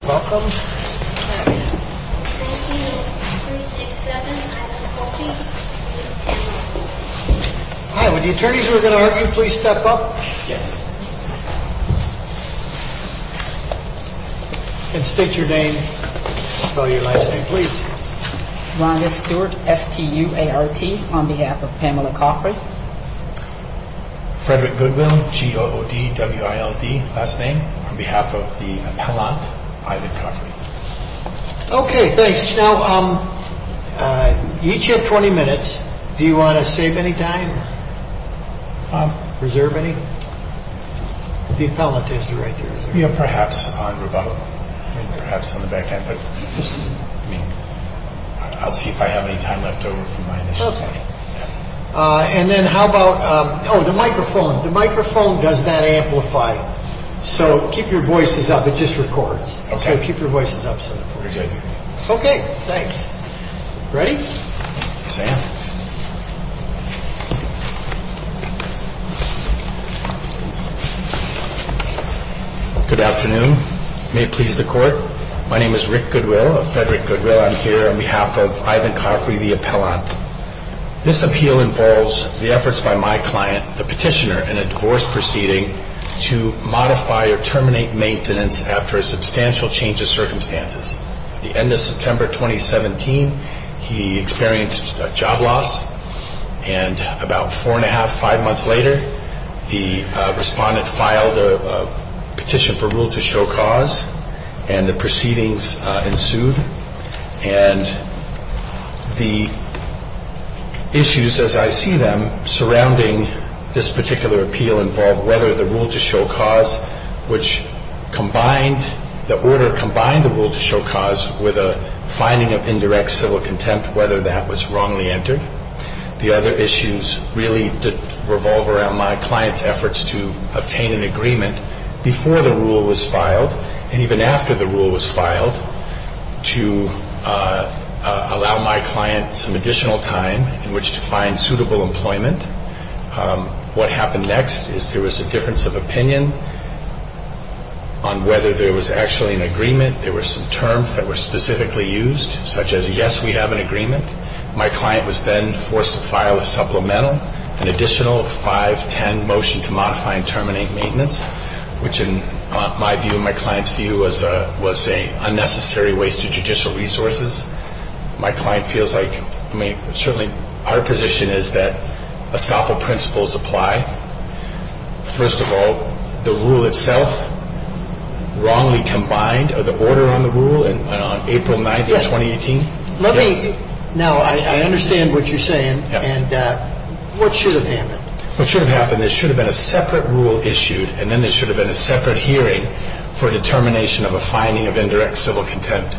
Welcome. 1-19-0367-7143 Hi, would the attorneys who are going to argue please step up? Yes. And state your name, spell your last name please. Rhonda Stewart, S-T-U-A-R-T, on behalf of Pamela Coffrey. Frederick Goodwill, G-O-O-D-W-I-L-D, last name, on behalf of the appellant, Ivan Coffrey. Okay, thanks. Now, each of you have 20 minutes. Do you want to save any time? Reserve any? The appellant has the right to reserve. Perhaps on the back end, but I'll see if I have any time left over from my initiative. And then how about, oh, the microphone. The microphone does not amplify, so keep your voices up. It just records. Okay. So keep your voices up. Okay, thanks. Ready? Yes, ma'am. Good afternoon. May it please the Court? My name is Rick Goodwill of Frederick Goodwill. I'm here on behalf of Ivan Coffrey, the appellant. This appeal involves the efforts by my client, the petitioner, in a divorce proceeding to modify or terminate maintenance after a substantial change of circumstances. At the end of September 2017, he experienced job loss, and about four and a half, five months later, the respondent filed a petition for rule to show cause, and the proceedings ensued. And the issues, as I see them, surrounding this particular appeal involve whether the rule to show cause, which combined, the order combined the rule to show cause with a finding of indirect civil contempt, whether that was wrongly entered. The other issues really revolve around my client's efforts to obtain an agreement before the rule was filed, and even after the rule was filed, to allow my client some additional time in which to find suitable employment. What happened next is there was a difference of opinion on whether there was actually an agreement. There were some terms that were specifically used, such as, yes, we have an agreement. My client was then forced to file a supplemental, an additional 510 motion to modify and terminate maintenance, which in my view, my client's view, was an unnecessary waste of judicial resources. My client feels like, I mean, certainly our position is that estoppel principles apply. First of all, the rule itself, wrongly combined, or the order on the rule on April 9th of 2018. Let me, now I understand what you're saying, and what should have happened? What should have happened, there should have been a separate rule issued, and then there should have been a separate hearing for determination of a finding of indirect civil contempt.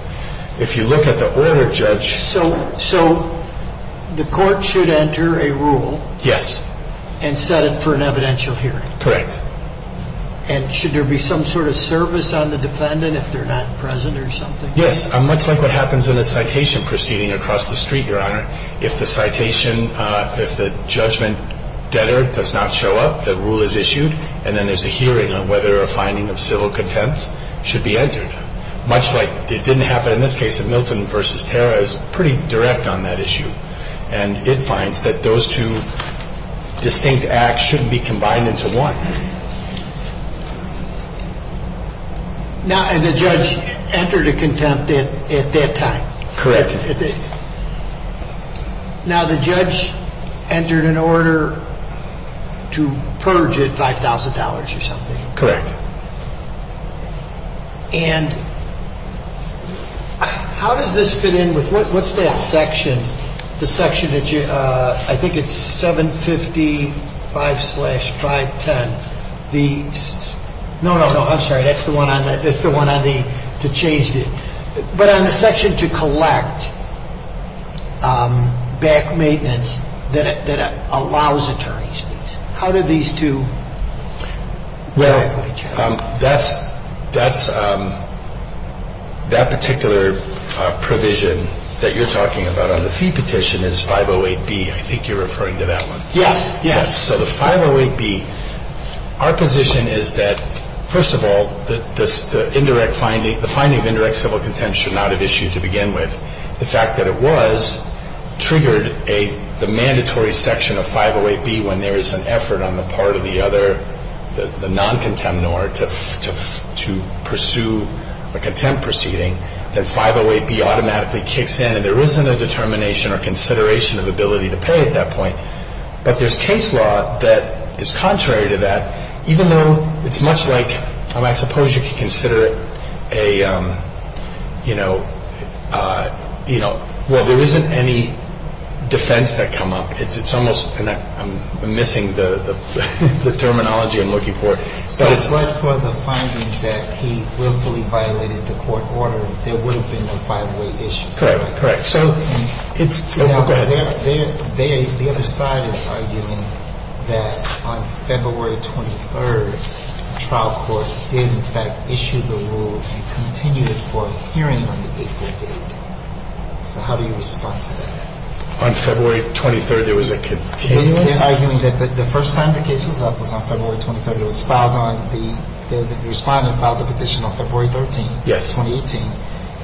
If you look at the order, Judge. So the court should enter a rule. Yes. And set it for an evidential hearing. Correct. And should there be some sort of service on the defendant if they're not present or something? Yes. Much like what happens in a citation proceeding across the street, Your Honor. If the citation, if the judgment debtor does not show up, the rule is issued, and then there's a hearing on whether a finding of civil contempt should be entered. Much like it didn't happen in this case of Milton v. Terra, it was pretty direct on that issue. And it finds that those two distinct acts shouldn't be combined into one. Now, the judge entered a contempt at that time. Correct. Now, the judge entered an order to purge at $5,000 or something. Correct. And how does this fit in with, what's that section, the section that you, I think it's 755-510. No, no, I'm sorry. That's the one on the, to change it. But on the section to collect back maintenance that allows attorney's fees. How do these two? Well, that's, that particular provision that you're talking about on the fee petition is 508-B. I think you're referring to that one. Yes. Yes. So the 508-B, our position is that, first of all, the indirect finding, the finding of indirect civil contempt should not have issued to begin with. The fact that it was triggered a, the mandatory section of 508-B when there is an effort on the part of the other, the non-contemnor to pursue a contempt proceeding, that 508-B automatically kicks in. And there isn't a determination or consideration of ability to pay at that point. But there's case law that is contrary to that, even though it's much like, I suppose you could consider it a, you know, well, there isn't any defense that come up. It's almost, and I'm missing the terminology I'm looking for. But for the finding that he willfully violated the court order, there would have been a 508-B issue. Correct. Correct. The other side is arguing that on February 23rd, the trial court did in fact issue the rule and continued it for a hearing on the April date. So how do you respond to that? On February 23rd, there was a continuous? They're arguing that the first time the case was up was on February 23rd. It was filed on the, the respondent filed the petition on February 13th. Yes.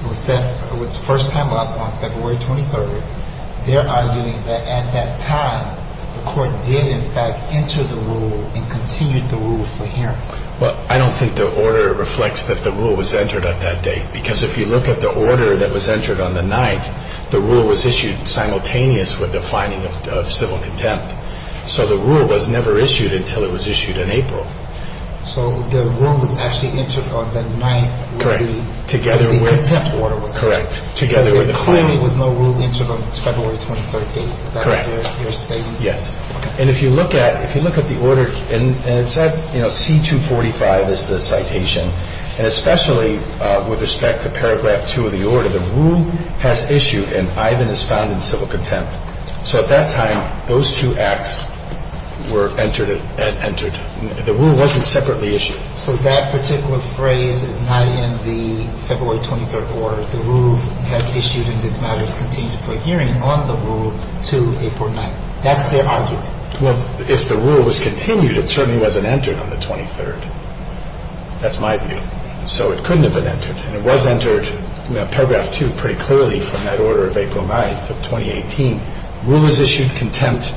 It was first time up on February 23rd. They're arguing that at that time, the court did in fact enter the rule and continued the rule for hearing. Well, I don't think the order reflects that the rule was entered at that date. Because if you look at the order that was entered on the 9th, the rule was issued simultaneous with the finding of civil contempt. So the rule was never issued until it was issued in April. So the rule was actually entered on the 9th where the contempt order was entered. Correct. So the finding was no rule entered on February 23rd. Correct. Is that what you're stating? Yes. And if you look at, if you look at the order, and it said, you know, C-245 is the citation. And especially with respect to paragraph 2 of the order, the rule has issued and Ivan is found in civil contempt. So at that time, those two acts were entered. The rule wasn't separately issued. So that particular phrase is not in the February 23rd order. The rule has issued and this matter is continued for hearing on the rule to April 9th. That's their argument. Well, if the rule was continued, it certainly wasn't entered on the 23rd. That's my view. So it couldn't have been entered. And it was entered in paragraph 2 pretty clearly from that order of April 9th of 2018. Rule was issued contempt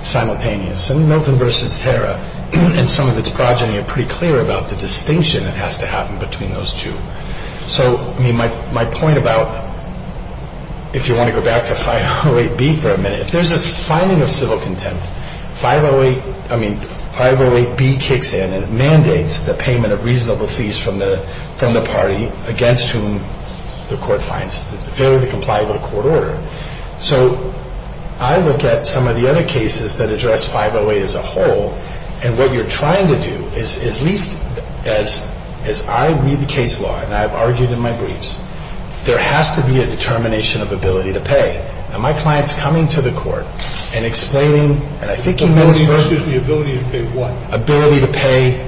simultaneous. And Milton v. Hara and some of its progeny are pretty clear about the distinction that has to happen between those two. So, I mean, my point about, if you want to go back to 508B for a minute, if there's this finding of civil contempt, 508, I mean, 508B kicks in and mandates the payment of reasonable fees from the party against whom the court finds fairly compliant with court order. So I look at some of the other cases that address 508 as a whole. And what you're trying to do is, at least as I read the case law, and I've argued in my briefs, there has to be a determination of ability to pay. And my client's coming to the court and explaining, and I think he knows first of all. The ability to pay what? Ability to pay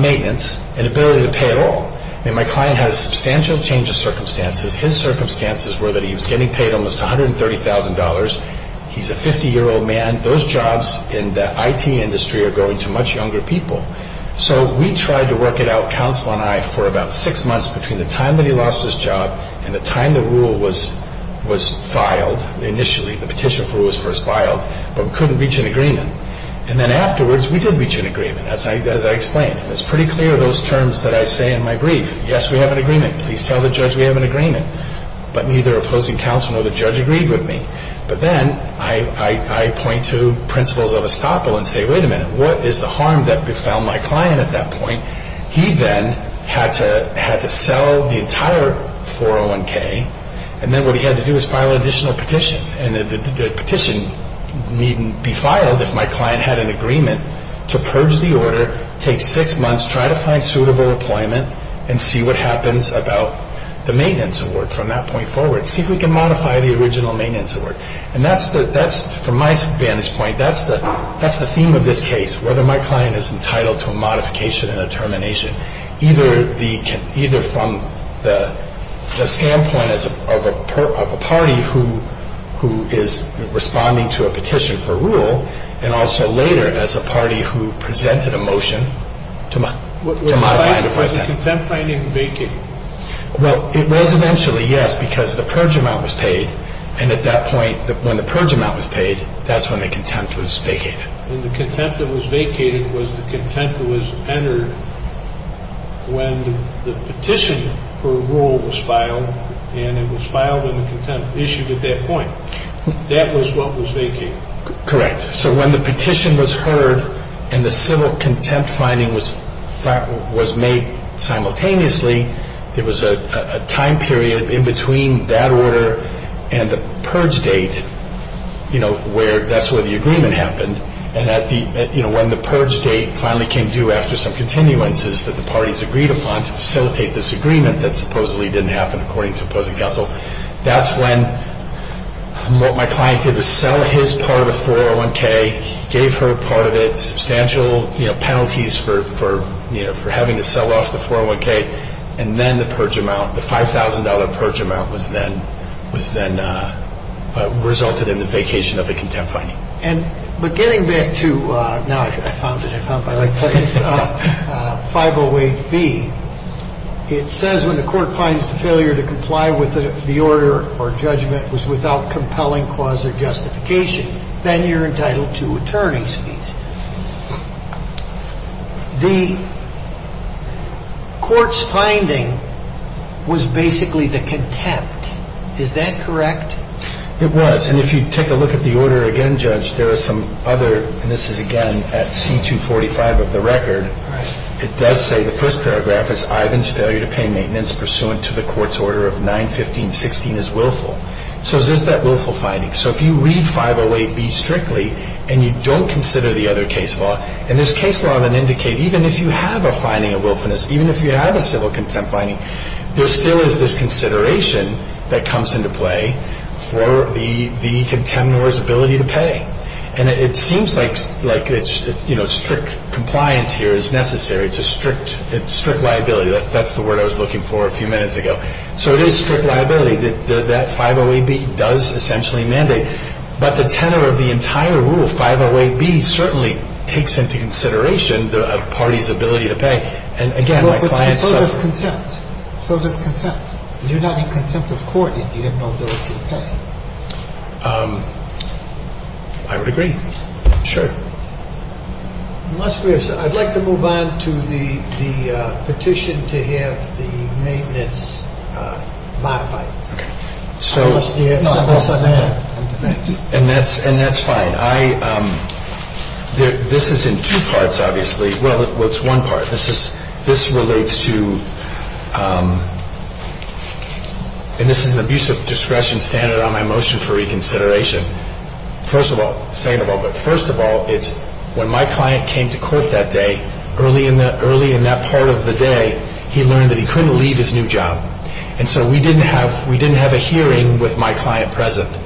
maintenance and ability to pay it all. Because his circumstances were that he was getting paid almost $130,000. He's a 50-year-old man. Those jobs in the IT industry are going to much younger people. So we tried to work it out, counsel and I, for about six months between the time that he lost his job and the time the rule was filed initially, the petition for rule was first filed, but we couldn't reach an agreement. And then afterwards, we did reach an agreement, as I explained. It was pretty clear, those terms that I say in my brief. Yes, we have an agreement. Please tell the judge we have an agreement. But neither opposing counsel nor the judge agreed with me. But then I point to principles of estoppel and say, wait a minute, what is the harm that befell my client at that point? He then had to sell the entire 401K, and then what he had to do was file an additional petition. And the petition needn't be filed if my client had an agreement to purge the order, take six months, try to find suitable employment, and see what happens about the maintenance award from that point forward, see if we can modify the original maintenance award. And that's, from my vantage point, that's the theme of this case, whether my client is entitled to a modification and a termination, either from the standpoint of a party who is responding to a petition for rule and also later as a party who presented a motion to modify it. Was the contempt finding vacated? Well, it was eventually, yes, because the purge amount was paid. And at that point, when the purge amount was paid, that's when the contempt was vacated. And the contempt that was vacated was the contempt that was entered when the petition for rule was filed, and it was filed and the contempt issued at that point. That was what was vacated. Correct. So when the petition was heard and the civil contempt finding was made simultaneously, there was a time period in between that order and the purge date where that's where the agreement happened. And when the purge date finally came due after some continuances that the parties agreed upon to facilitate this agreement that supposedly didn't happen according to opposing counsel, that's when what my client did was sell his part of the 401K, gave her part of it, substantial penalties for having to sell off the 401K, and then the purge amount, the $5,000 purge amount was then resulted in the vacation of the contempt finding. But getting back to, now I found it, I found my right place, 508B, it says when the court finds the failure to comply with the order or judgment was without compelling cause or justification, then you're entitled to attorney's fees. The court's finding was basically the contempt. Is that correct? It was. And if you take a look at the order again, Judge, there are some other, and this is again at C245 of the record, it does say the first paragraph is, Ivan's failure to pay maintenance pursuant to the court's order of 915.16 is willful. So there's that willful finding. So if you read 508B strictly and you don't consider the other case law, and there's case law that indicate even if you have a finding of willfulness, even if you have a civil contempt finding, there still is this consideration that comes into play for the contemptor's ability to pay. And it seems like strict compliance here is necessary. It's a strict liability. That's the word I was looking for a few minutes ago. So it is strict liability. That 508B does essentially mandate. But the tenor of the entire rule, 508B, certainly takes into consideration a party's ability to pay. And again, my client suffered. So does contempt. You're not in contempt of court if you have no ability to pay. I would agree. Sure. I'd like to move on to the petition to have the maintenance modified. And that's fine. This is in two parts, obviously. Well, it's one part. This relates to, and this is an abusive discretion standard on my motion for reconsideration. First of all, second of all, but first of all, it's when my client came to court that day, early in that part of the day, he learned that he couldn't leave his new job. And so we didn't have a hearing with my client present.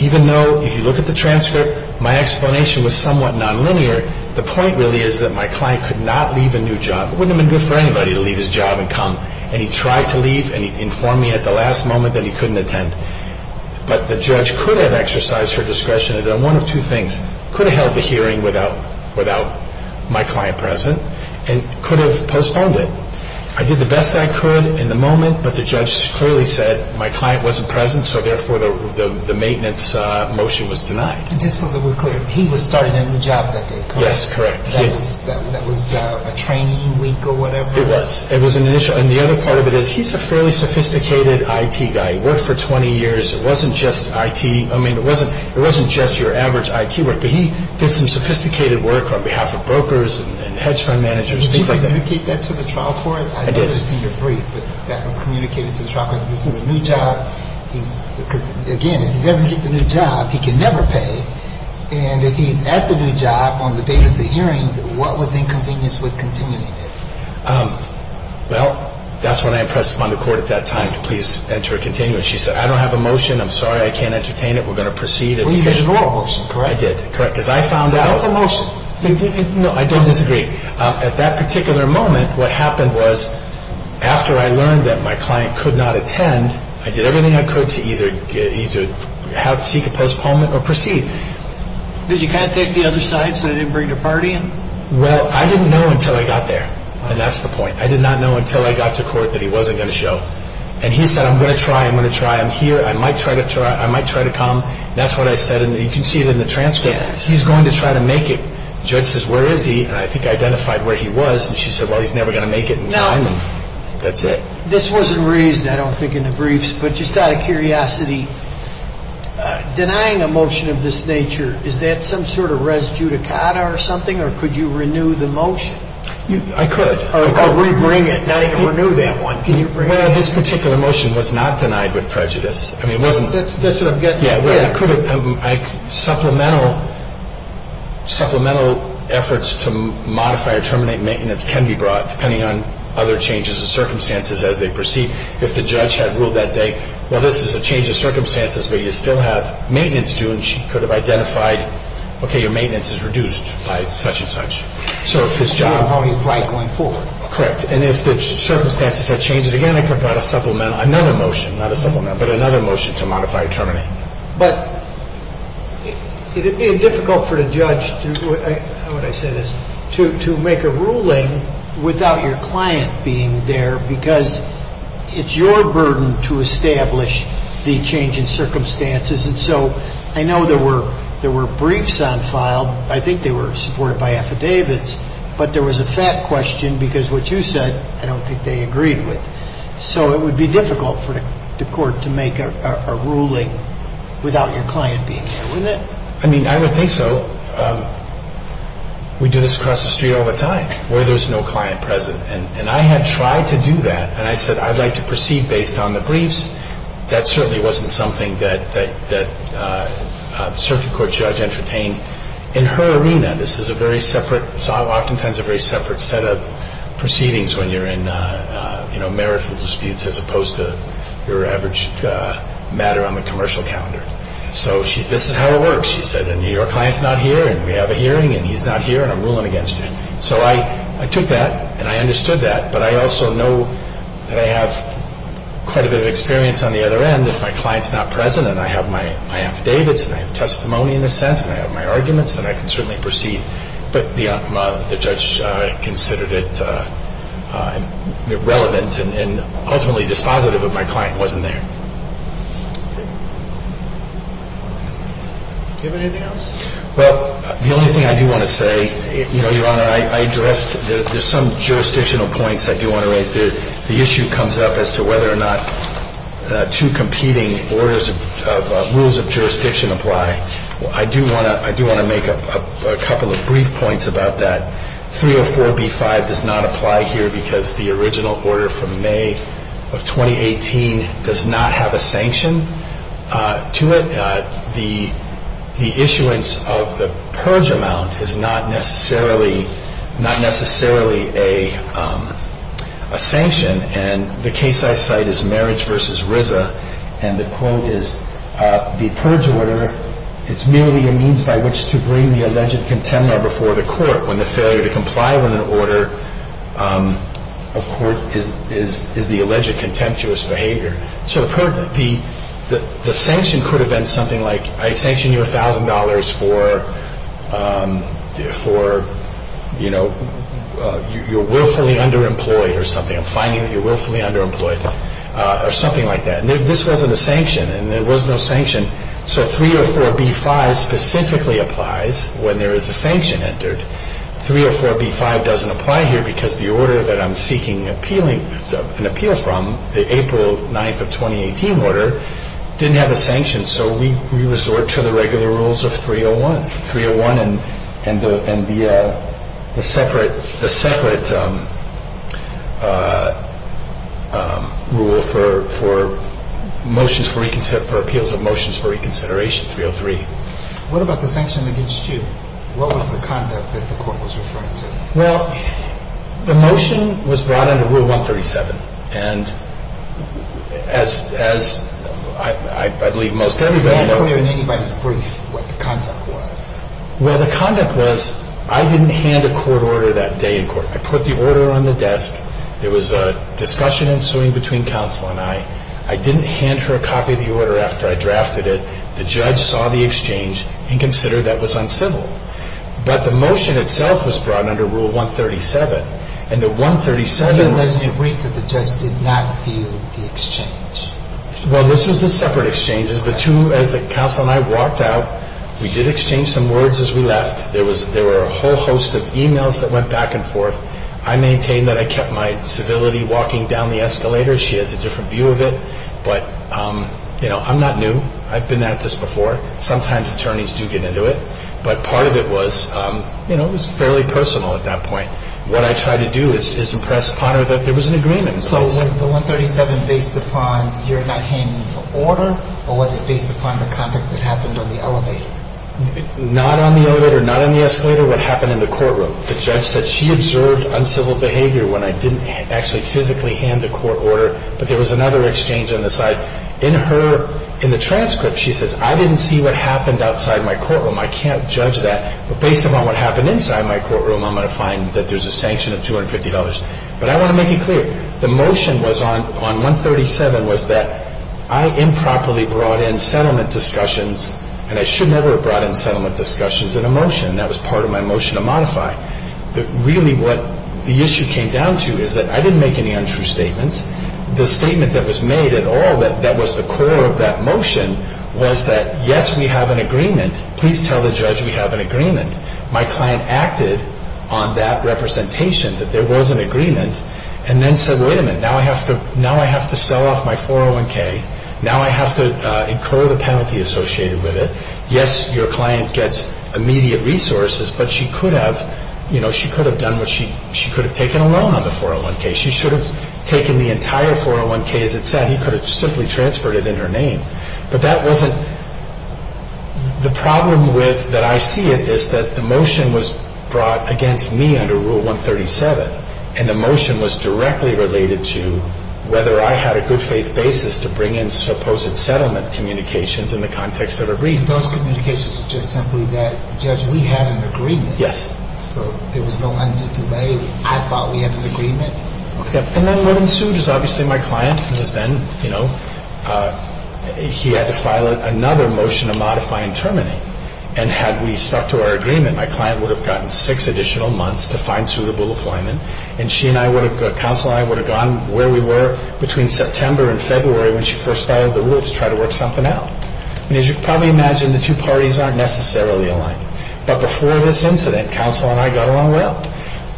Even though, if you look at the transcript, my explanation was somewhat nonlinear. The point really is that my client could not leave a new job. It wouldn't have been good for anybody to leave his job and come. And he tried to leave, and he informed me at the last moment that he couldn't attend. But the judge could have exercised her discretion. And one of two things, could have held the hearing without my client present and could have postponed it. I did the best I could in the moment, but the judge clearly said my client wasn't present, so therefore the maintenance motion was denied. Just so that we're clear, he was starting a new job that day, correct? Yes, correct. That was a training week or whatever? It was. It was an initial. And the other part of it is he's a fairly sophisticated IT guy. He worked for 20 years. It wasn't just IT. I mean, it wasn't just your average IT work, but he did some sophisticated work on behalf of brokers and hedge fund managers. Did you communicate that to the trial court? I did. I did receive a brief that was communicated to the trial court. This is a new job. Because, again, if he doesn't get the new job, he can never pay. And if he's at the new job on the date of the hearing, what was the inconvenience with continuing it? Well, that's when I pressed upon the court at that time to please enter a continuing. She said, I don't have a motion. I'm sorry I can't entertain it. We're going to proceed. Well, you did ignore a motion, correct? I did, correct. Because I found out. That's a motion. No, I did disagree. At that particular moment, what happened was after I learned that my client could not attend, I did everything I could to either seek a postponement or proceed. Did you contact the other side so they didn't bring the party in? Well, I didn't know until I got there. And that's the point. I did not know until I got to court that he wasn't going to show. And he said, I'm going to try. I'm going to try. I'm here. I might try to come. That's what I said. And you can see it in the transcript. He's going to try to make it. The judge says, where is he? And I think I identified where he was. And she said, well, he's never going to make it in time. And that's it. This wasn't raised, I don't think, in the briefs, but just out of curiosity, denying a motion of this nature, is that some sort of res judicata or something, or could you renew the motion? I could. Or rebring it, not even renew that one. Can you rebring it? Well, this particular motion was not denied with prejudice. I mean, it wasn't. That's what I'm getting at. Yeah. Supplemental efforts to modify or terminate maintenance can be brought, depending on other changes of circumstances as they proceed. If the judge had ruled that day, well, this is a change of circumstances, but you still have maintenance due, and she could have identified, okay, your maintenance is reduced by such and such. So if this judge… You don't know how he applied going forward. Correct. And if the circumstances had changed, again, I could have brought a supplemental, another motion, not a supplemental, but another motion to modify or terminate. But it would be difficult for the judge, how would I say this, to make a ruling without your client being there, because it's your burden to establish the change in circumstances. And so I know there were briefs on file. I think they were supported by affidavits, but there was a fact question because what you said I don't think they agreed with. So it would be difficult for the court to make a ruling without your client being there, wouldn't it? I mean, I would think so. We do this across the street all the time where there's no client present. And I had tried to do that, and I said I'd like to proceed based on the briefs. That certainly wasn't something that the circuit court judge entertained. In her arena, this is a very separate, oftentimes a very separate set of proceedings when you're in marital disputes as opposed to your average matter on the commercial calendar. So this is how it works. She said, and your client's not here, and we have a hearing, and he's not here, and I'm ruling against you. So I took that, and I understood that, but I also know that I have quite a bit of experience on the other end. If my client's not present, and I have my affidavits, and I have testimony in a sense, and I have my arguments, then I can certainly proceed. But the judge considered it irrelevant and ultimately dispositive if my client wasn't there. Do you have anything else? Well, the only thing I do want to say, Your Honor, I addressed, there's some jurisdictional points I do want to raise. The issue comes up as to whether or not two competing rules of jurisdiction apply. I do want to make a couple of brief points about that. 304b-5 does not apply here because the original order from May of 2018 does not have a sanction to it. The issuance of the purge amount is not necessarily a sanction, and the case I cite is Marriage v. RZA, and the quote is, The purge order, it's merely a means by which to bring the alleged contender before the court when the failure to comply with an order of court is the alleged contemptuous behavior. So the sanction could have been something like, I sanction you $1,000 for, you know, you're willfully underemployed or something. I'm finding that you're willfully underemployed, or something like that. This wasn't a sanction, and there was no sanction. So 304b-5 specifically applies when there is a sanction entered. 304b-5 doesn't apply here because the order that I'm seeking an appeal from, the April 9th of 2018 order, didn't have a sanction, so we resort to the regular rules of 301. And the separate rule for motions for reconsideration, 303. What about the sanction against you? What was the conduct that the court was referring to? Well, the motion was brought under Rule 137, and as I believe most everybody knows. I'm not clear in anybody's brief what the conduct was. Well, the conduct was, I didn't hand a court order that day in court. I put the order on the desk. There was a discussion ensuing between counsel and I. I didn't hand her a copy of the order after I drafted it. The judge saw the exchange and considered that was uncivil. But the motion itself was brought under Rule 137, and the 137... Well, you mentioned in your brief that the judge did not view the exchange. Well, this was a separate exchange. As the counsel and I walked out, we did exchange some words as we left. There were a whole host of e-mails that went back and forth. I maintained that I kept my civility walking down the escalator. She has a different view of it. But, you know, I'm not new. I've been at this before. Sometimes attorneys do get into it. But part of it was, you know, it was fairly personal at that point. What I tried to do is impress upon her that there was an agreement. So was the 137 based upon your not handing the order or was it based upon the conduct that happened on the elevator? Not on the elevator, not on the escalator, what happened in the courtroom. The judge said she observed uncivil behavior when I didn't actually physically hand the court order. But there was another exchange on the side. In the transcript, she says, I didn't see what happened outside my courtroom. I can't judge that. But based upon what happened inside my courtroom, I'm going to find that there's a sanction of $250. But I want to make it clear. The motion on 137 was that I improperly brought in settlement discussions, and I should never have brought in settlement discussions in a motion. That was part of my motion to modify. Really what the issue came down to is that I didn't make any untrue statements. The statement that was made at all that was the core of that motion was that, yes, we have an agreement. Please tell the judge we have an agreement. My client acted on that representation, that there was an agreement, and then said, wait a minute. Now I have to sell off my 401K. Now I have to incur the penalty associated with it. Yes, your client gets immediate resources, but she could have done what she could have done. She could have taken a loan on the 401K. She should have taken the entire 401K, as it said. He could have simply transferred it in her name. But that wasn't the problem with that I see it is that the motion was brought against me under Rule 137, and the motion was directly related to whether I had a good faith basis to bring in supposed settlement communications in the context of a brief. Those communications were just simply that, judge, we had an agreement. Yes. So there was no undue delay. I thought we had an agreement. And then what ensued is obviously my client was then, you know, he had to file another motion to modify and terminate. And had we stuck to our agreement, my client would have gotten six additional months to find suitable employment, and she and I would have, counsel and I would have gone where we were between September and February when she first filed the rule to try to work something out. And as you can probably imagine, the two parties aren't necessarily aligned. But before this incident, counsel and I got along well,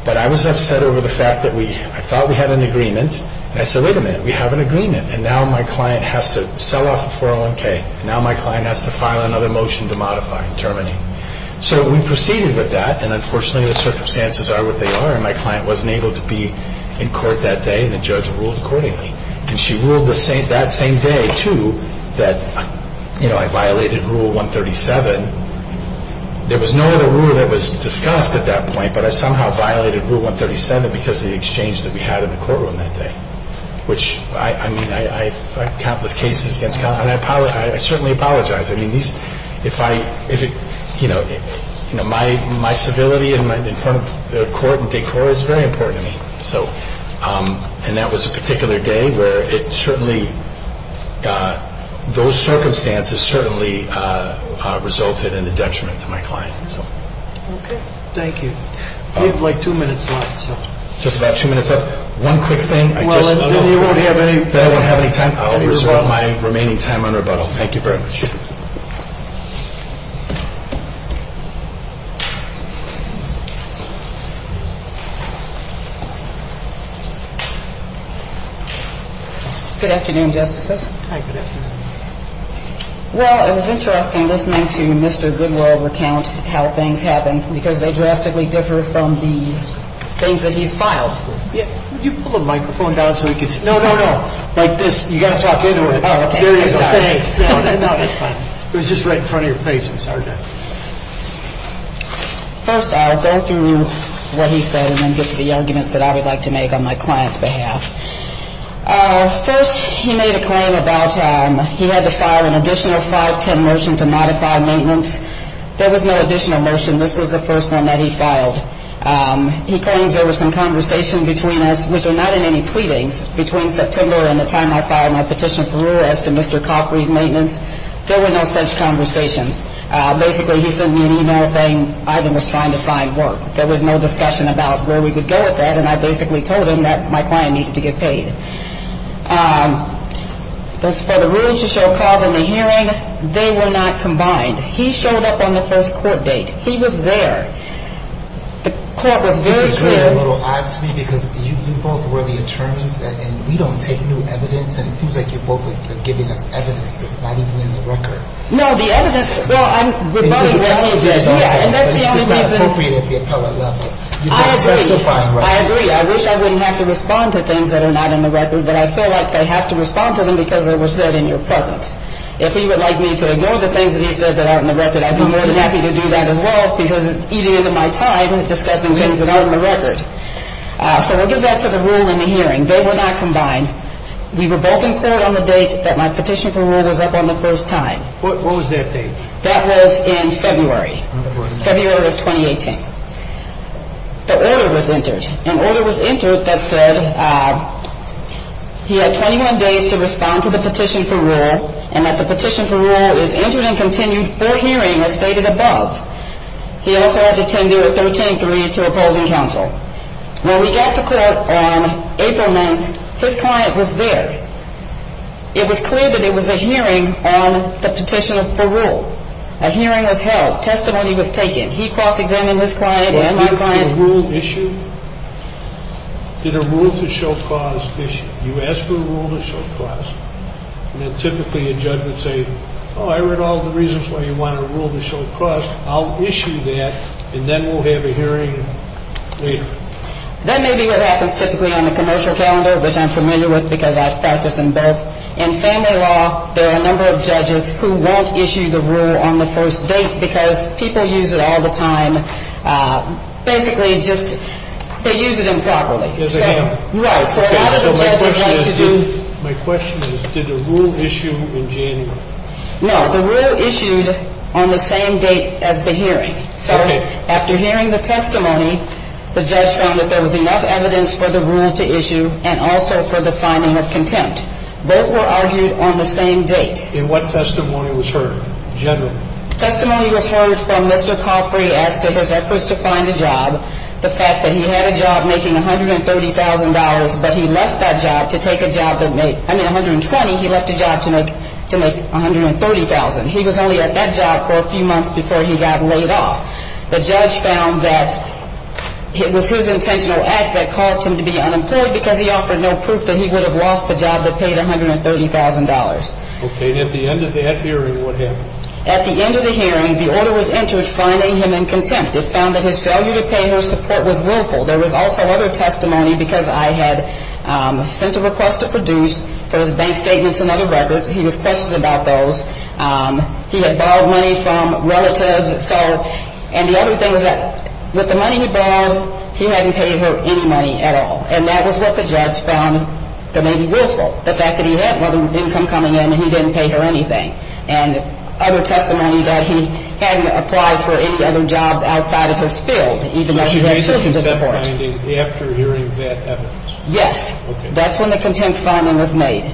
but I was upset over the fact that I thought we had an agreement, and I said, wait a minute, we have an agreement. And now my client has to sell off the 401K, and now my client has to file another motion to modify and terminate. So we proceeded with that, and unfortunately the circumstances are what they are, and my client wasn't able to be in court that day, and the judge ruled accordingly. And she ruled that same day, too, that, you know, I violated Rule 137. There was no other rule that was discussed at that point, but I somehow violated Rule 137 because of the exchange that we had in the courtroom that day, which, I mean, I've had countless cases against counsel, and I certainly apologize. I mean, these, if I, you know, my civility in front of the court and decor is very important to me. And that was a particular day where it certainly, those circumstances certainly resulted in a detriment to my client. Okay. Thank you. We have, like, two minutes left, so. Just about two minutes left. One quick thing. Well, then you won't have any. Then I won't have any time. I'll reserve my remaining time on rebuttal. Thank you very much. Good afternoon, Justices. Hi. Good afternoon. Well, it was interesting listening to Mr. Goodwill recount how things happened, because they drastically differ from the things that he's filed. Yeah. You pull the microphone down so we can see. No, no, no. Like this. You've got to talk into it. Oh, okay. I'm sorry. There you go. Thanks. No, that's fine. It was just right in front of your face. I'm sorry about that. First, I'll go through what he said and then get to the arguments that I would like to make on my client's behalf. First, he made a claim about he had to file an additional 510 motion to modify maintenance. There was no additional motion. This was the first one that he filed. He claims there was some conversation between us, which were not in any pleadings, between September and the time I filed my petition for rule as to Mr. Coffrey's maintenance. There were no such conversations. Basically, he sent me an email saying Ivan was trying to find work. There was no discussion about where we could go with that, and I basically told him that my client needed to get paid. As for the rules to show cause in the hearing, they were not combined. He showed up on the first court date. He was there. The court was very clear. This is kind of a little odd to me, because you both were the attorneys, and we don't take new evidence, and it seems like you're both giving us evidence that's not even in the record. No, the evidence, well, I'm rebutting what he said. Yeah, and that's the only reason. It's just not appropriate at the appellate level. I agree. I agree. I wish I wouldn't have to respond to things that are not in the record, but I feel like I have to respond to them because they were said in your presence. If he would like me to ignore the things that he said that aren't in the record, I'd be more than happy to do that as well, because it's eating into my time discussing things that aren't in the record. So I'll give that to the rule in the hearing. They were not combined. We were both in court on the date that my petition for rule was up on the first time. What was that date? That was in February, February of 2018. The order was entered. An order was entered that said he had 21 days to respond to the petition for rule and that the petition for rule is entered and continued for hearing as stated above. He also had to tender at 13-3 to opposing counsel. When we got to court on April 9th, his client was there. It was clear that it was a hearing on the petition for rule. A hearing was held. Testimony was taken. He cross-examined his client and my client. Did a rule issue? Did a rule to show cause issue? You ask for a rule to show cause, and then typically a judge would say, oh, I read all the reasons why you want a rule to show cause. I'll issue that, and then we'll have a hearing later. That may be what happens typically on the commercial calendar, which I'm familiar with because I've practiced in both. In family law, there are a number of judges who won't issue the rule on the first date because people use it all the time. Basically, just they use it improperly. Yes, they do. Right, so a lot of the judges like to do. My question is, did a rule issue in January? No, the rule issued on the same date as the hearing. So after hearing the testimony, the judge found that there was enough evidence for the rule to issue and also for the finding of contempt. Both were argued on the same date. In what testimony was heard, generally? Testimony was heard from Mr. Coffrey as to his efforts to find a job, the fact that he had a job making $130,000, but he left that job to take a job that made, I mean $120,000, he left a job to make $130,000. He was only at that job for a few months before he got laid off. The judge found that it was his intentional act that caused him to be unemployed because he offered no proof that he would have lost the job that paid $130,000. Okay, and at the end of that hearing, what happened? At the end of the hearing, the order was entered finding him in contempt. It found that his failure to pay her support was willful. There was also other testimony because I had sent a request to Produce for his bank statements and other records. He was questioned about those. He had borrowed money from relatives, and the other thing was that with the money he borrowed, he hadn't paid her any money at all, and that was what the judge found that may be willful, the fact that he had no income coming in and he didn't pay her anything, and other testimony that he hadn't applied for any other jobs outside of his field, even though he had children to support. So he raised that finding after hearing that evidence? Yes. Okay. That's when the contempt finding was made.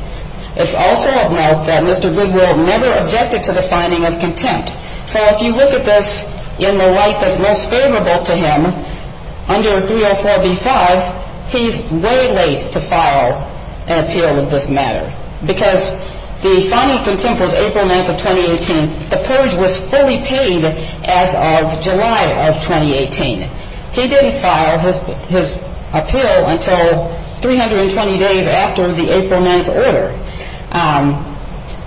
It's also of note that Mr. Goodwill never objected to the finding of contempt. So if you look at this in the light that's most favorable to him, under 304b-5, he's way late to file an appeal of this matter because the finding of contempt was April 9th of 2018. The purge was fully paid as of July of 2018. He didn't file his appeal until 320 days after the April 9th order.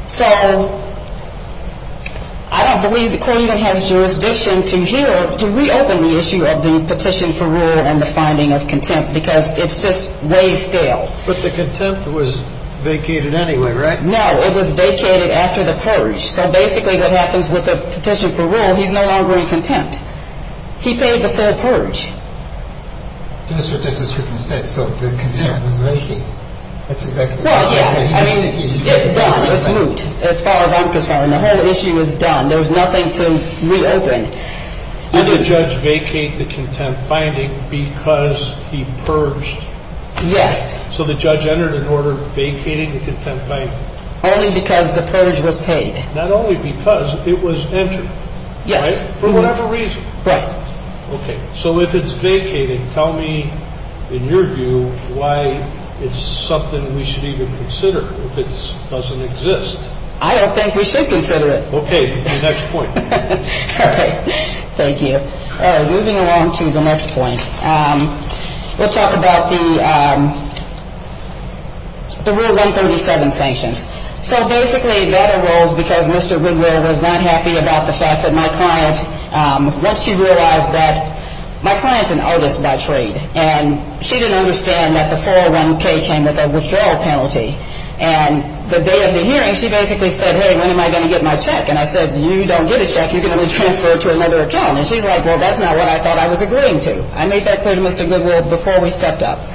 So I don't believe the court even has jurisdiction to reopen the issue of the petition for rule and the finding of contempt because it's just way stale. But the contempt was vacated anyway, right? No, it was vacated after the purge. So basically what happens with the petition for rule, he's no longer in contempt. He paid the full purge. That's what Justice Griffin said. So the contempt was vacated. Well, yes. It's done. It's moved as far as I'm concerned. The whole issue is done. There's nothing to reopen. Did the judge vacate the contempt finding because he purged? Yes. So the judge entered an order vacating the contempt finding? Only because the purge was paid. Not only because. It was entered. Yes. For whatever reason. Right. Okay. So if it's vacated, tell me, in your view, why it's something we should even consider if it doesn't exist. I don't think we should consider it. Okay. The next point. All right. Thank you. All right. Moving along to the next point. We'll talk about the rule 137 sanctions. So basically that arose because Mr. Goodwill was not happy about the fact that my client, once she realized that my client's an artist by trade, and she didn't understand that the 401K came with a withdrawal penalty. And the day of the hearing, she basically said, hey, when am I going to get my check? And I said, you don't get a check. You're going to be transferred to another account. And she's like, well, that's not what I thought I was agreeing to. I made that clear to Mr. Goodwill before we stepped up.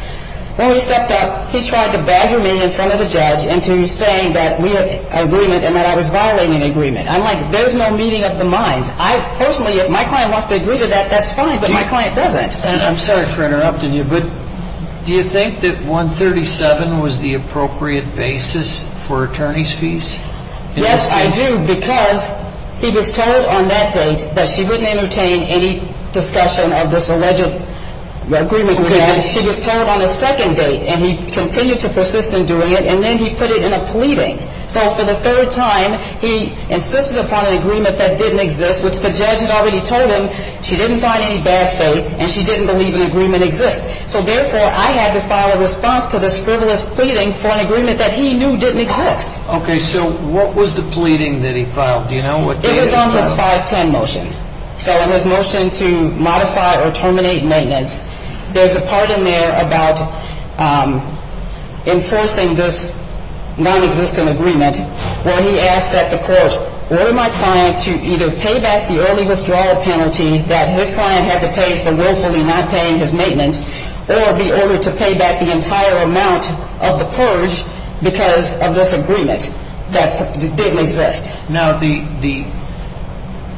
When we stepped up, he tried to badger me in front of the judge into saying that we had an agreement and that I was violating an agreement. I'm like, there's no meeting of the minds. Personally, if my client wants to agree to that, that's fine, but my client doesn't. I'm sorry for interrupting you, but do you think that 137 was the appropriate basis for attorney's fees? Yes, I do, because he was told on that date that she wouldn't entertain any discussion of this alleged agreement with him. And she was told on the second date, and he continued to persist in doing it, and then he put it in a pleading. So for the third time, he insisted upon an agreement that didn't exist, which the judge had already told him she didn't find any bad faith and she didn't believe an agreement exists. So, therefore, I had to file a response to this frivolous pleading for an agreement that he knew didn't exist. Okay, so what was the pleading that he filed? Do you know what date it was filed? It was on his 510 motion, so his motion to modify or terminate maintenance. There's a part in there about enforcing this nonexistent agreement where he asked that the court order my client to either pay back the early withdrawal penalty that his client had to pay for willfully not paying his maintenance, or be ordered to pay back the entire amount of the purge because of this agreement that didn't exist. Now, the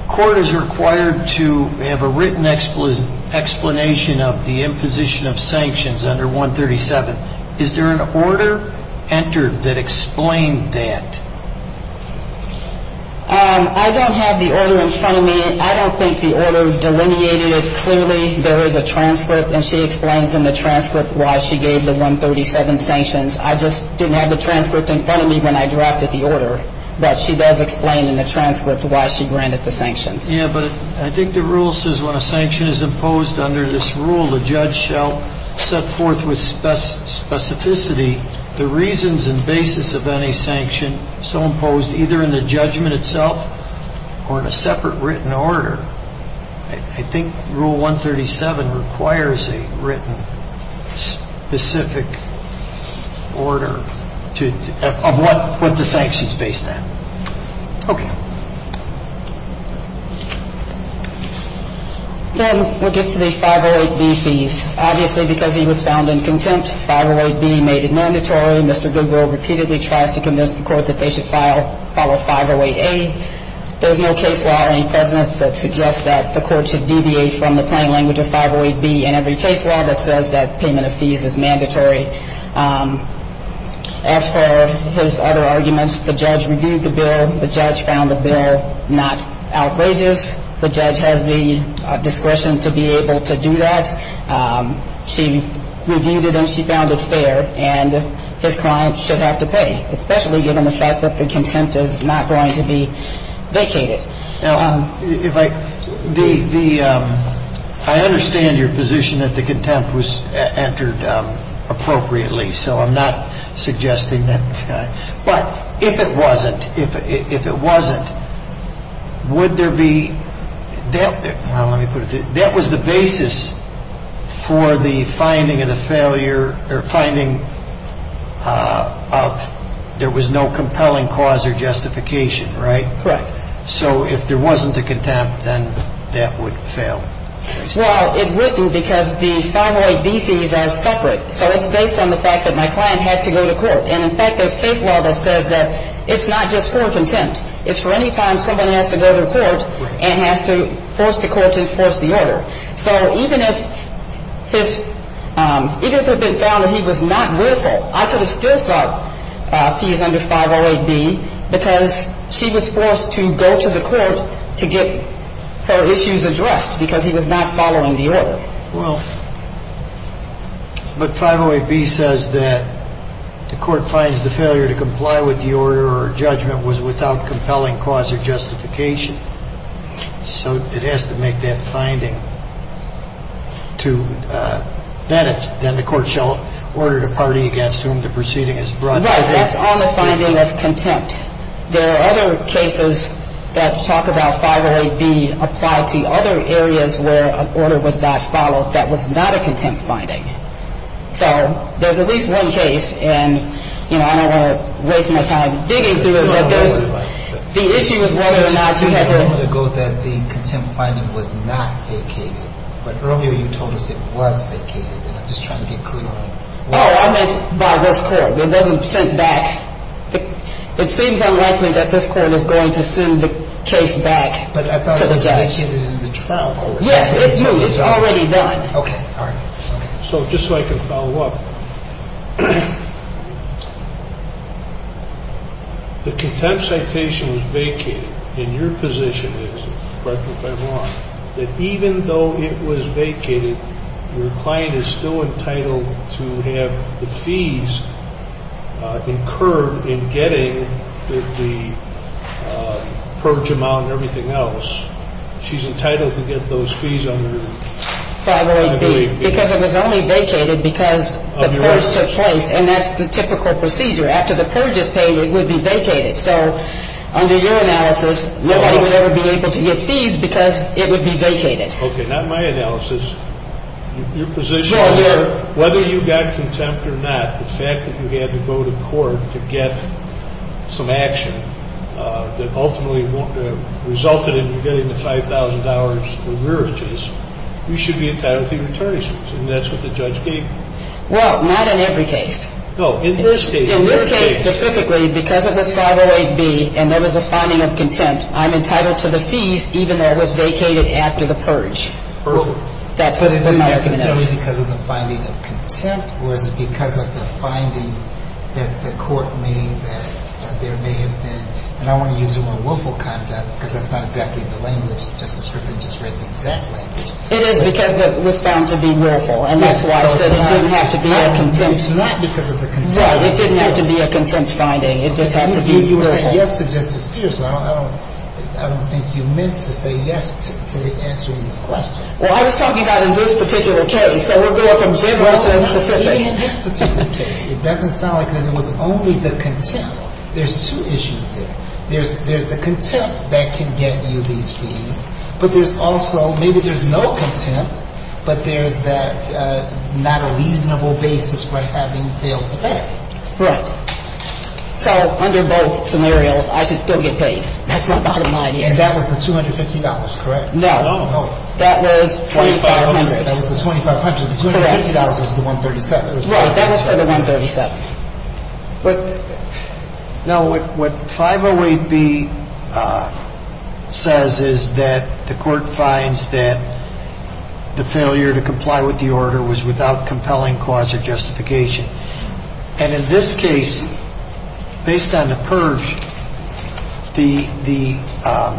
court is required to have a written explanation of the imposition of sanctions under 137. Is there an order entered that explained that? I don't have the order in front of me. I don't think the order delineated it clearly. There is a transcript, and she explains in the transcript why she gave the 137 sanctions. I just didn't have the transcript in front of me when I drafted the order, but she does explain in the transcript why she granted the sanctions. Yeah, but I think the rule says when a sanction is imposed under this rule, the judge shall set forth with specificity the reasons and basis of any sanction so imposed either in the judgment itself or in a separate written order. I think rule 137 requires a written specific order of what the sanctions based on. Okay. Then we'll get to the 508B fees. Obviously, because he was found in contempt, 508B made it mandatory. Mr. Goodwill repeatedly tries to convince the court that they should follow 508A. There's no case law or any precedents that suggest that the court should deviate from the plain language of 508B in every case law that says that payment of fees is mandatory. As for his other arguments, the judge reviewed the bill. The judge found the bill not outrageous. The judge has the discretion to be able to do that. I understand your position that the contempt was entered appropriately, so I'm not suggesting that. But if it wasn't, if it wasn't, would there be that? Well, let me put it this way. If there was no compelling cause or justification, right? Correct. So if there wasn't a contempt, then that would fail. Well, it wouldn't because the 508B fees are separate. So it's based on the fact that my client had to go to court. And, in fact, there's case law that says that it's not just for contempt. It's for any time someone has to go to court and has to force the court to enforce the order. So even if his, even if it had been found that he was not willful, I could have still sought fees under 508B because she was forced to go to the court to get her issues addressed because he was not following the order. Well, but 508B says that the court finds the failure to comply with the order or judgment was without compelling cause or justification. So it has to make that finding to, then the court shall order the party against whom the proceeding is brought. Right. That's on the finding of contempt. There are other cases that talk about 508B applied to other areas where an order was not followed that was not a contempt finding. So there's at least one case, and, you know, I don't want to waste my time digging through it. But there's, the issue is whether or not you had to. It just seems a moment ago that the contempt finding was not vacated. But earlier you told us it was vacated. And I'm just trying to get clear on why. Oh, I meant by this court. It wasn't sent back. It seems unlikely that this court is going to send the case back to the judge. But I thought it was vacated in the trial court. Yes, it's moved. It's already done. Okay. All right. So just so I can follow up, the contempt citation was vacated. And your position is, correct me if I'm wrong, that even though it was vacated, your client is still entitled to have the fees incurred in getting the purge amount and everything else. She's entitled to get those fees under 508B. Because it was only vacated because the purge took place. And that's the typical procedure. After the purge is paid, it would be vacated. So under your analysis, nobody would ever be able to get fees because it would be vacated. Okay. Not my analysis. Your position is, whether you got contempt or not, the fact that you had to go to court to get some action that ultimately resulted in you getting the $5,000 in rearages, you should be entitled to your attorney's fees. And that's what the judge gave you. Well, not in every case. No. In this case. In this case specifically, because it was 508B and there was a finding of contempt, I'm entitled to the fees even though it was vacated after the purge. But is it necessarily because of the finding of contempt, or is it because of the finding that the court made that there may have been, and I don't want to use the word willful conduct because that's not exactly the language. Justice Griffin just read the exact language. It is because it was found to be willful. And that's why I said it didn't have to be a contempt. It's not because of the contempt. Right. It didn't have to be a contempt finding. It just had to be willful. You were saying yes to Justice Peterson. I don't think you meant to say yes to answering this question. Well, I was talking about in this particular case. Okay. So we're going from general to specific. In this particular case, it doesn't sound like it was only the contempt. There's two issues there. There's the contempt that can get you these fees, but there's also maybe there's no contempt, but there's that not a reasonable basis for having failed to pay. Right. So under both scenarios, I should still get paid. That's my bottom line here. And that was the $250, correct? No. No. That was 2,500. That was the 2,500. Correct. The $250 was the 137. Right. That was for the 137. But now what 508B says is that the court finds that the failure to comply with the order was without compelling cause or justification. And in this case, based on the purge, the, I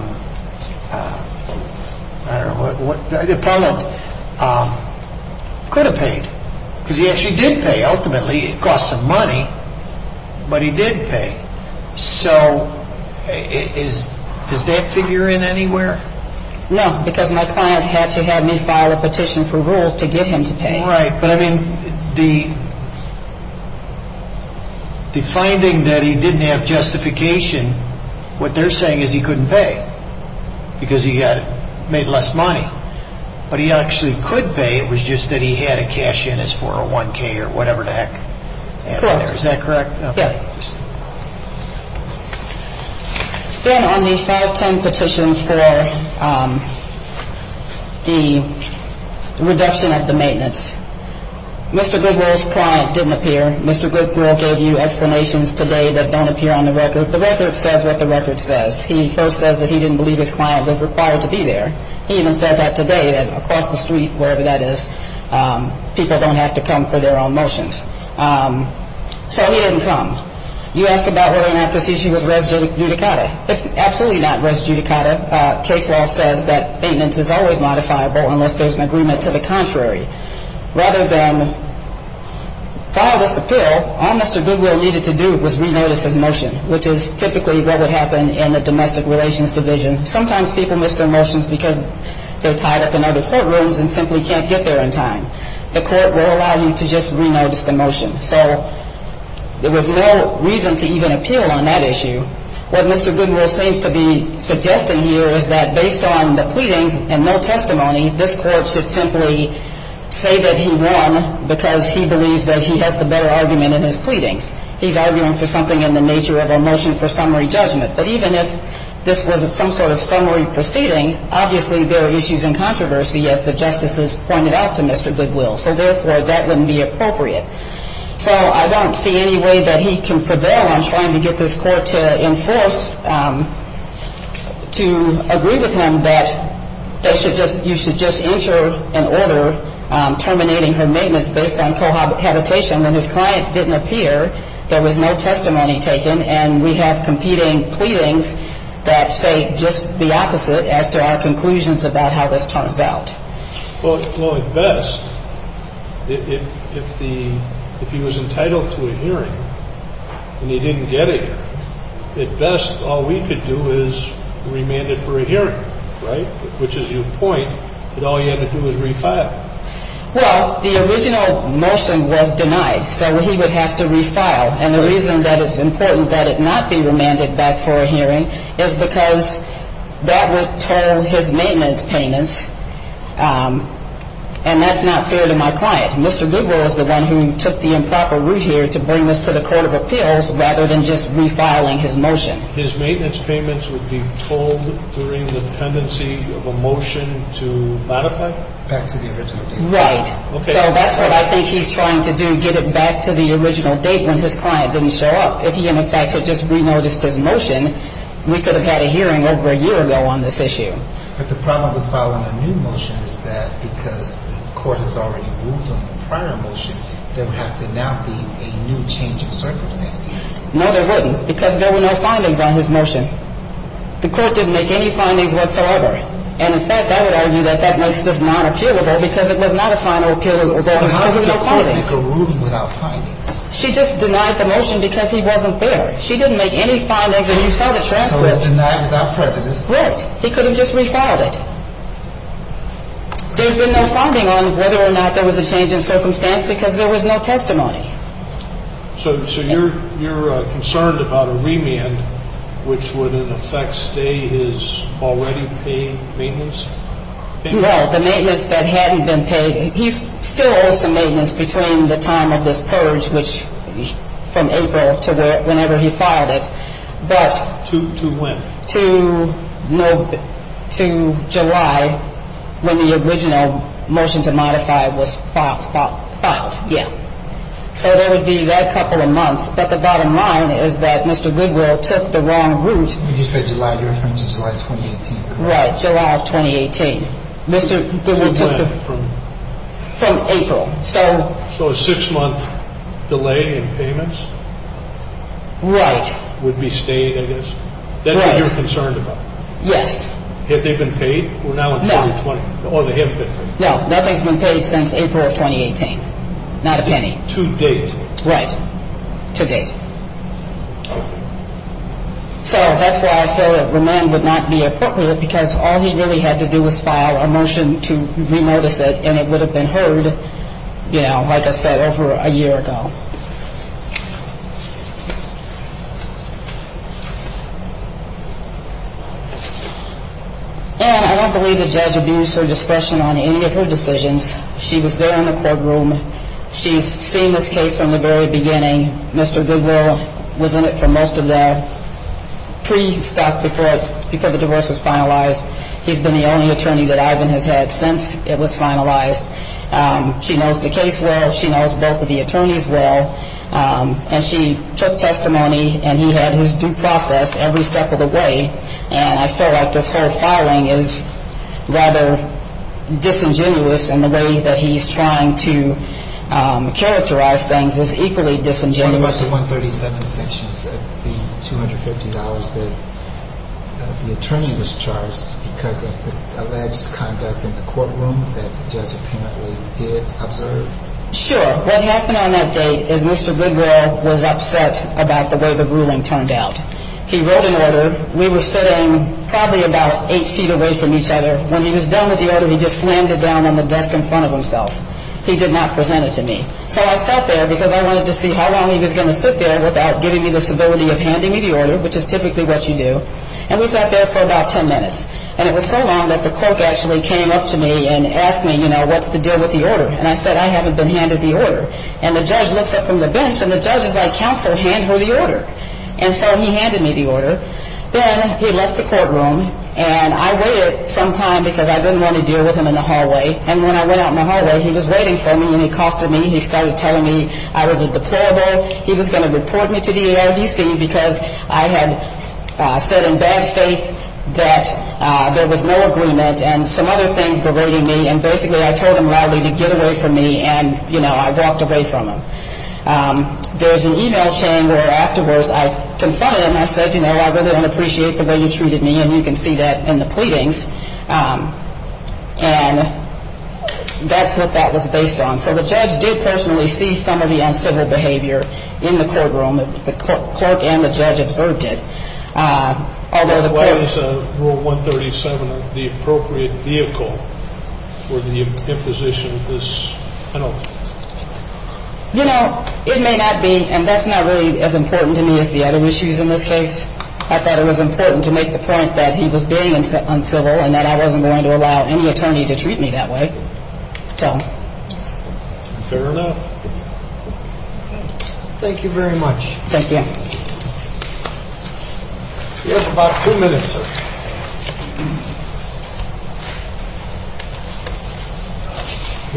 don't know, the appellant could have paid. Because he actually did pay ultimately. It cost some money, but he did pay. So does that figure in anywhere? No, because my client had to have me file a petition for rule to get him to pay. Right. But, I mean, the finding that he didn't have justification, what they're saying is he couldn't pay because he had made less money. But he actually could pay. It was just that he had to cash in his 401K or whatever the heck. Correct. Is that correct? Yeah. Then on the 510 petition for the reduction of the maintenance, Mr. Goodwill's client didn't appear. Mr. Goodwill gave you explanations today that don't appear on the record. The record says what the record says. He first says that he didn't believe his client was required to be there. He even said that today, that across the street, wherever that is, people don't have to come for their own motions. So he didn't come. You ask about whether or not this issue was res judicata. It's absolutely not res judicata. Case law says that maintenance is always modifiable unless there's an agreement to the contrary. Rather than file this appeal, all Mr. Goodwill needed to do was re-notice his motion, which is typically what would happen in a domestic relations division. Sometimes people miss their motions because they're tied up in other courtrooms and simply can't get there in time. The court will allow you to just re-notice the motion. So there was no reason to even appeal on that issue. What Mr. Goodwill seems to be suggesting here is that based on the pleadings and no testimony, this court should simply say that he won because he believes that he has the better argument in his pleadings. He's arguing for something in the nature of a motion for summary judgment. But even if this was some sort of summary proceeding, obviously there are issues in controversy, as the justices pointed out to Mr. Goodwill. So, therefore, that wouldn't be appropriate. So I don't see any way that he can prevail on trying to get this court to enforce, to agree with him that you should just enter an order terminating her maintenance based on cohabitation. When his client didn't appear, there was no testimony taken, and we have competing pleadings that say just the opposite as to our conclusions about how this turns out. Well, at best, if he was entitled to a hearing and he didn't get it, at best all we could do is remand it for a hearing, right? Which is your point that all you had to do was refile. Well, the original motion was denied, so he would have to refile. And the reason that it's important that it not be remanded back for a hearing is because that would toll his maintenance payments. And that's not fair to my client. Mr. Goodwill is the one who took the improper route here to bring this to the court of appeals rather than just refiling his motion. His maintenance payments would be tolled during the pendency of a motion to modify? Back to the original date. Right. Okay. So that's what I think he's trying to do, get it back to the original date when his client didn't show up. If he, in effect, had just renoticed his motion, we could have had a hearing over a year ago on this issue. But the problem with filing a new motion is that because the court has already ruled on the prior motion, there would have to now be a new change of circumstances. No, there wouldn't, because there were no findings on his motion. The court didn't make any findings whatsoever. And, in fact, I would argue that that makes this non-appealable because it was not a final appeal. So how does the court make a ruling without findings? She just denied the motion because he wasn't there. She didn't make any findings when you saw the transcript. So it was denied without prejudice? Right. He could have just refiled it. There would have been no funding on whether or not there was a change in circumstance because there was no testimony. So you're concerned about a remand, which would, in effect, stay his already paid maintenance? Well, the maintenance that hadn't been paid. He still owes the maintenance between the time of this purge, which from April to whenever he filed it. To when? To July when the original motion to modify was filed. Yeah. So there would be that couple of months. But the bottom line is that Mr. Goodwill took the wrong route. When you said July, you're referring to July 2018, correct? Right, July of 2018. Mr. Goodwill took the wrong route. From when? From April. So a six-month delay in payments? Right. Would be stayed, I guess? Right. That's what you're concerned about? Yes. Had they been paid? No. Or they have been paid? No, nothing's been paid since April of 2018, not a penny. To date? Right, to date. Okay. So that's why I feel that remand would not be appropriate because all he really had to do was file a motion to remodess it, and it would have been heard, you know, like I said, over a year ago. And I don't believe the judge abused her discretion on any of her decisions. She was there in the courtroom. She's seen this case from the very beginning. Mr. Goodwill was in it for most of the pre-stock before the divorce was finalized. He's been the only attorney that Ivan has had since it was finalized. She knows the case well. She knows both of the attorneys well. And she took testimony, and he had his due process every step of the way. And I felt like this whole filing is rather disingenuous in the way that he's trying to characterize things is equally disingenuous. One of us won 37 sanctions at the $250 that the attorney was charged because of the alleged conduct in the courtroom that the judge apparently did observe. Sure. What happened on that date is Mr. Goodwill was upset about the way the ruling turned out. He wrote an order. We were sitting probably about eight feet away from each other. When he was done with the order, he just slammed it down on the desk in front of himself. He did not present it to me. So I sat there because I wanted to see how long he was going to sit there without giving me the stability of handing me the order, which is typically what you do. And we sat there for about ten minutes. And it was so long that the clerk actually came up to me and asked me, you know, what's the deal with the order? And I said, I haven't been handed the order. And the judge looks up from the bench, and the judge is like, counsel, hand her the order. And so he handed me the order. Then he left the courtroom, and I waited some time because I didn't want to deal with him in the hallway. And when I went out in the hallway, he was waiting for me, and he costed me. He started telling me I was a deplorable. He was going to report me to the ARDC because I had said in bad faith that there was no agreement and some other things berated me. And basically I told him loudly to get away from me, and, you know, I walked away from him. There was an e-mail chain where afterwards I confronted him. I said, you know, I really don't appreciate the way you treated me, and you can see that in the pleadings. And that's what that was based on. So the judge did personally see some of the uncivil behavior in the courtroom. The clerk and the judge observed it. Why is Rule 137 the appropriate vehicle for the imposition of this penalty? You know, it may not be, and that's not really as important to me as the other issues in this case. I thought it was important to make the point that he was being uncivil and that I wasn't going to allow any attorney to treat me that way. So. Fair enough. Thank you very much. Thank you. You have about two minutes, sir.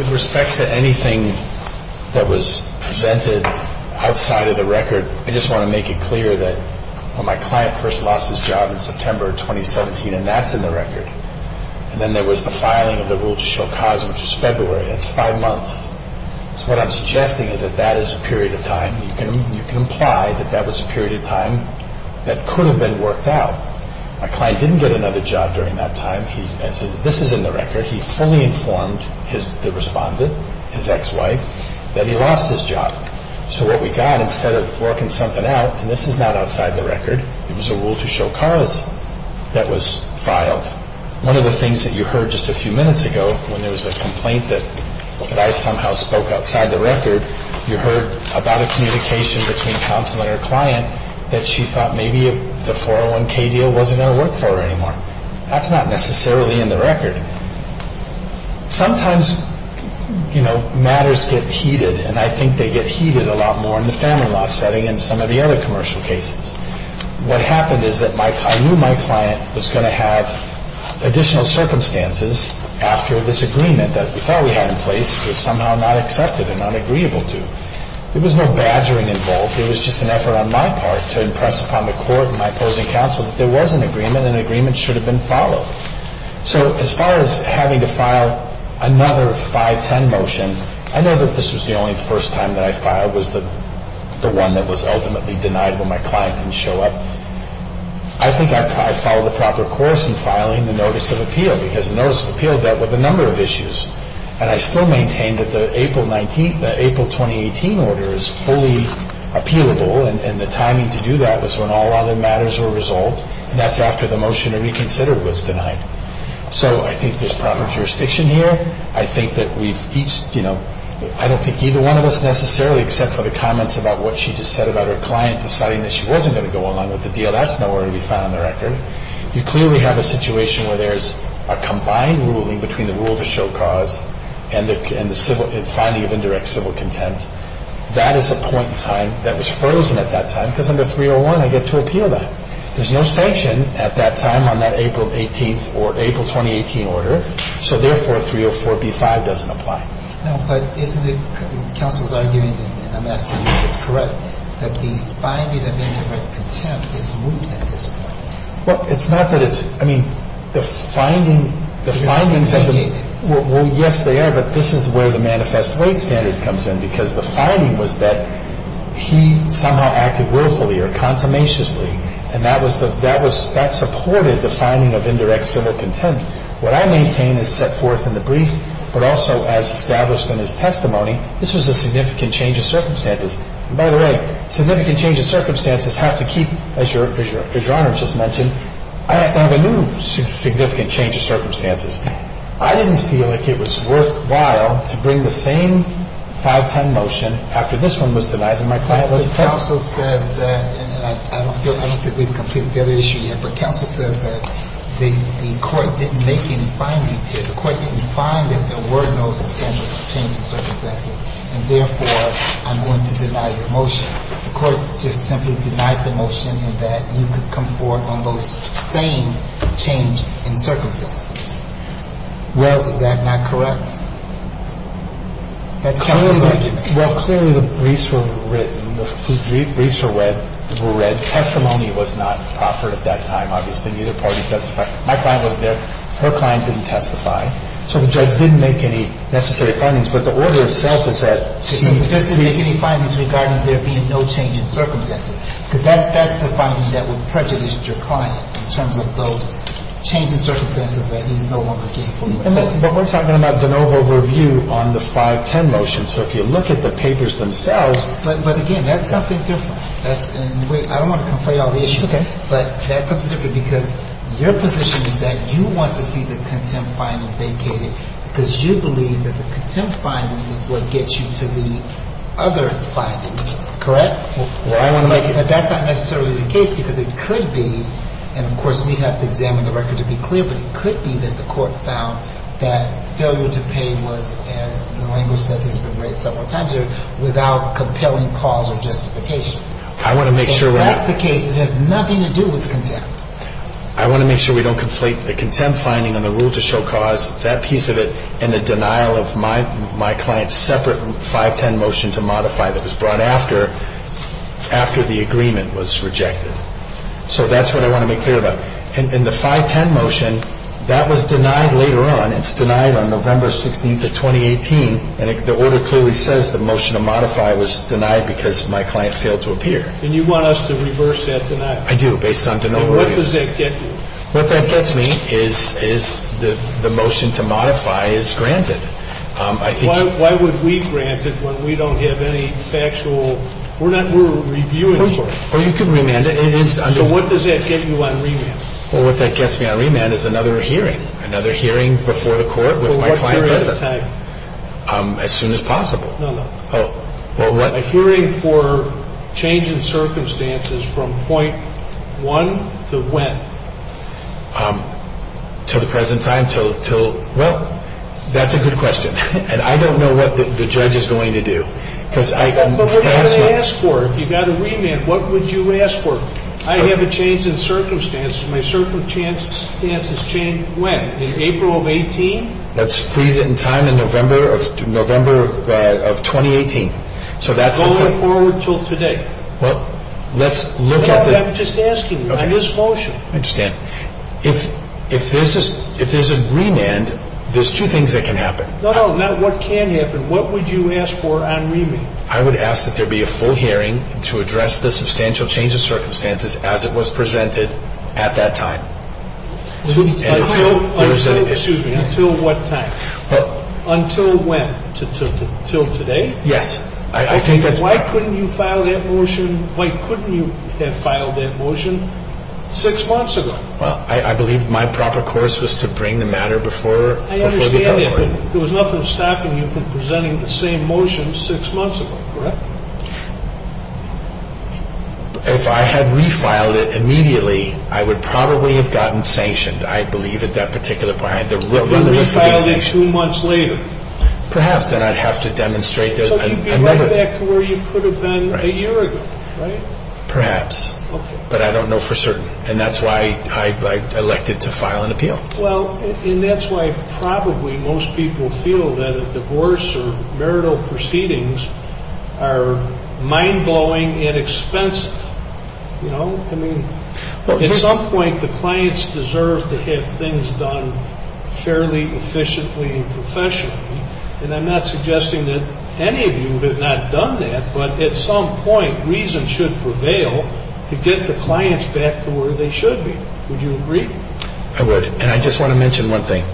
With respect to anything that was presented outside of the record, I just want to make it clear that when my client first lost his job in September of 2017, and that's in the record, and then there was the filing of the rule to show cause, which was February, that's five months. So what I'm suggesting is that that is a period of time. You can imply that that was a period of time that could have been worked out. My client didn't get another job during that time. This is in the record. He fully informed the respondent, his ex-wife, that he lost his job. So what we got, instead of working something out, and this is not outside the record, it was a rule to show cause that was filed. One of the things that you heard just a few minutes ago when there was a complaint that I somehow spoke outside the record, you heard about a communication between counsel and her client that she thought maybe the 401K deal wasn't going to work for her anymore. That's not necessarily in the record. Sometimes, you know, matters get heated, and I think they get heated a lot more in the family law setting and some of the other commercial cases. What happened is that I knew my client was going to have additional circumstances after this agreement that we thought we had in place was somehow not accepted and not agreeable to. There was no badgering involved. It was just an effort on my part to impress upon the court and my opposing counsel that there was an agreement and an agreement should have been followed. So as far as having to file another 510 motion, I know that this was the only first time that I filed was the one that was ultimately denied when my client didn't show up. Because notice of appeal dealt with a number of issues. And I still maintain that the April 2018 order is fully appealable, and the timing to do that was when all other matters were resolved. That's after the motion to reconsider was denied. So I think there's proper jurisdiction here. I think that we've each, you know, I don't think either one of us necessarily, except for the comments about what she just said about her client deciding that she wasn't going to go along with the deal. That's nowhere to be found in the record. You clearly have a situation where there's a combined ruling between the rule to show cause and the finding of indirect civil contempt. That is a point in time that was frozen at that time because under 301 I get to appeal that. There's no sanction at that time on that April 18th or April 2018 order. So therefore, 304b-5 doesn't apply. No, but isn't it counsel's argument, and I'm asking you if it's correct, that the finding of indirect contempt is moot at this point? Well, it's not that it's, I mean, the finding, the findings of the, well, yes, they are, but this is where the manifest weight standard comes in because the finding was that he somehow acted willfully or consummatiously, and that was the, that was, that supported the finding of indirect civil contempt. What I maintain is set forth in the brief, but also as established in his testimony, this was a significant change of circumstances. And by the way, significant change of circumstances have to keep, as Your Honor just mentioned, I have to have a new significant change of circumstances. I didn't feel like it was worthwhile to bring the same 510 motion after this one was denied and my client wasn't present. But counsel says that, and I don't feel, I don't think we've completed the other issue yet, but counsel says that the court didn't make any findings here. And so I would say that I'm going to deny your motion, and therefore I'm going to deny your motion. The court just simply denied the motion and that you could come forward on those same change in circumstances. Well, is that not correct? That's counsel's argument. Well, clearly the briefs were written, the briefs were read. Testimony was not offered at that time, obviously, and neither party testified. My client wasn't there. Her client didn't testify. So the judge didn't make any necessary findings. But the order itself is that she needs to be ---- The judge didn't make any findings regarding there being no change in circumstances because that's the finding that would prejudice your client in terms of those change in circumstances that he's no longer getting. But we're talking about de novo review on the 510 motion. So if you look at the papers themselves ---- But again, that's something different. And I don't want to conflate all the issues. It's okay. But that's something different because your position is that you want to see the contempt finding vacated because you believe that the contempt finding is what gets you to the other findings. Correct? Well, I want to make it ---- But that's not necessarily the case because it could be, and of course we have to examine the record to be clear, but it could be that the court found that failure to pay was, as the language says, has been read several times there, without compelling cause or justification. I want to make sure we have ---- If that's the case, it has nothing to do with contempt. I want to make sure we don't conflate the contempt finding and the rule to show cause, that piece of it, and the denial of my client's separate 510 motion to modify that was brought after the agreement was rejected. So that's what I want to make clear about. In the 510 motion, that was denied later on. It's denied on November 16th of 2018, and the order clearly says the motion to modify was denied because my client failed to appear. And you want us to reverse that tonight? I do, based on ---- And what does that get you? What that gets me is the motion to modify is granted. I think ---- Why would we grant it when we don't have any factual ---- we're not ---- we're reviewing it. Well, you could remand it. So what does that get you on remand? Well, what that gets me on remand is another hearing, another hearing before the court with my client. For what period of time? As soon as possible. No, no. Oh. A hearing for change in circumstances from point one to when? To the present time? Well, that's a good question. And I don't know what the judge is going to do. But what did you ask for? If you got a remand, what would you ask for? I have a change in circumstances. My circumstances change when? In April of 18? Let's freeze it in time in November of 2018. So that's the point. Going forward until today? Well, let's look at the ---- I'm just asking you on this motion. I understand. If there's a remand, there's two things that can happen. No, no. Not what can happen. What would you ask for on remand? I would ask that there be a full hearing to address the substantial change in circumstances as it was presented at that time. Until what time? Until when? Until today? Yes. I think that's correct. Why couldn't you file that motion? Why couldn't you have filed that motion six months ago? Well, I believe my proper course was to bring the matter before the hearing. I understand that. But there was nothing stopping you from presenting the same motion six months ago, correct? If I had refiled it immediately, I would probably have gotten sanctioned, I believe, at that particular point. You refiled it two months later? Perhaps. Then I'd have to demonstrate that I never ---- So you'd be right back to where you could have been a year ago, right? Perhaps. Okay. But I don't know for certain. And that's why I elected to file an appeal. Well, and that's why probably most people feel that a divorce or marital proceedings are mind-blowing and expensive. You know? I mean, at some point, the clients deserve to have things done fairly efficiently and professionally. And I'm not suggesting that any of you have not done that. But at some point, reason should prevail to get the clients back to where they should be. Would you agree? I would. And I just want to mention one thing.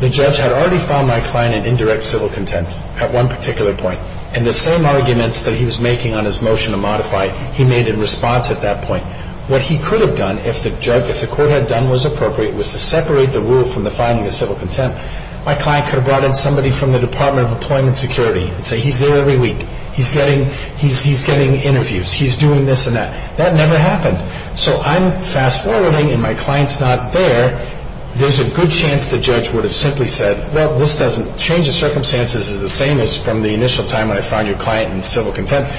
The judge had already found my client in indirect civil contempt at one particular point. And the same arguments that he was making on his motion to modify, he made in response at that point. What he could have done, if the court had done what was appropriate, was to separate the rule from the finding of civil contempt. My client could have brought in somebody from the Department of Employment Security and said, He's there every week. He's getting interviews. He's doing this and that. That never happened. So I'm fast-forwarding, and my client's not there. There's a good chance the judge would have simply said, Well, this doesn't change the circumstances. This is the same as from the initial time when I found your client in civil contempt.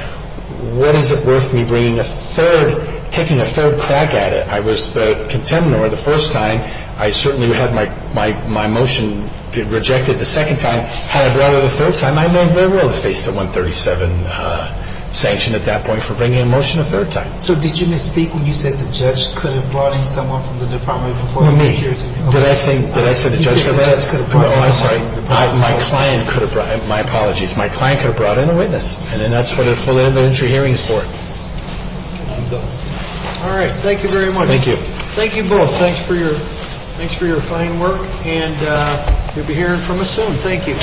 What is it worth me bringing a third, taking a third crack at it? I was the contender the first time. I certainly had my motion rejected the second time. Had I brought it a third time, I may very well have faced a 137 sanction at that point for bringing a motion a third time. So did you misspeak when you said the judge could have brought in someone from the Department of Employment Security? Me. Did I say the judge could have brought in someone from the Department of Employment Security? My client could have brought in a witness, and that's what a full interventory hearing is for. All right. Thank you very much. Thank you. Thank you both. Thanks for your fine work, and we'll be hearing from us soon. Thank you.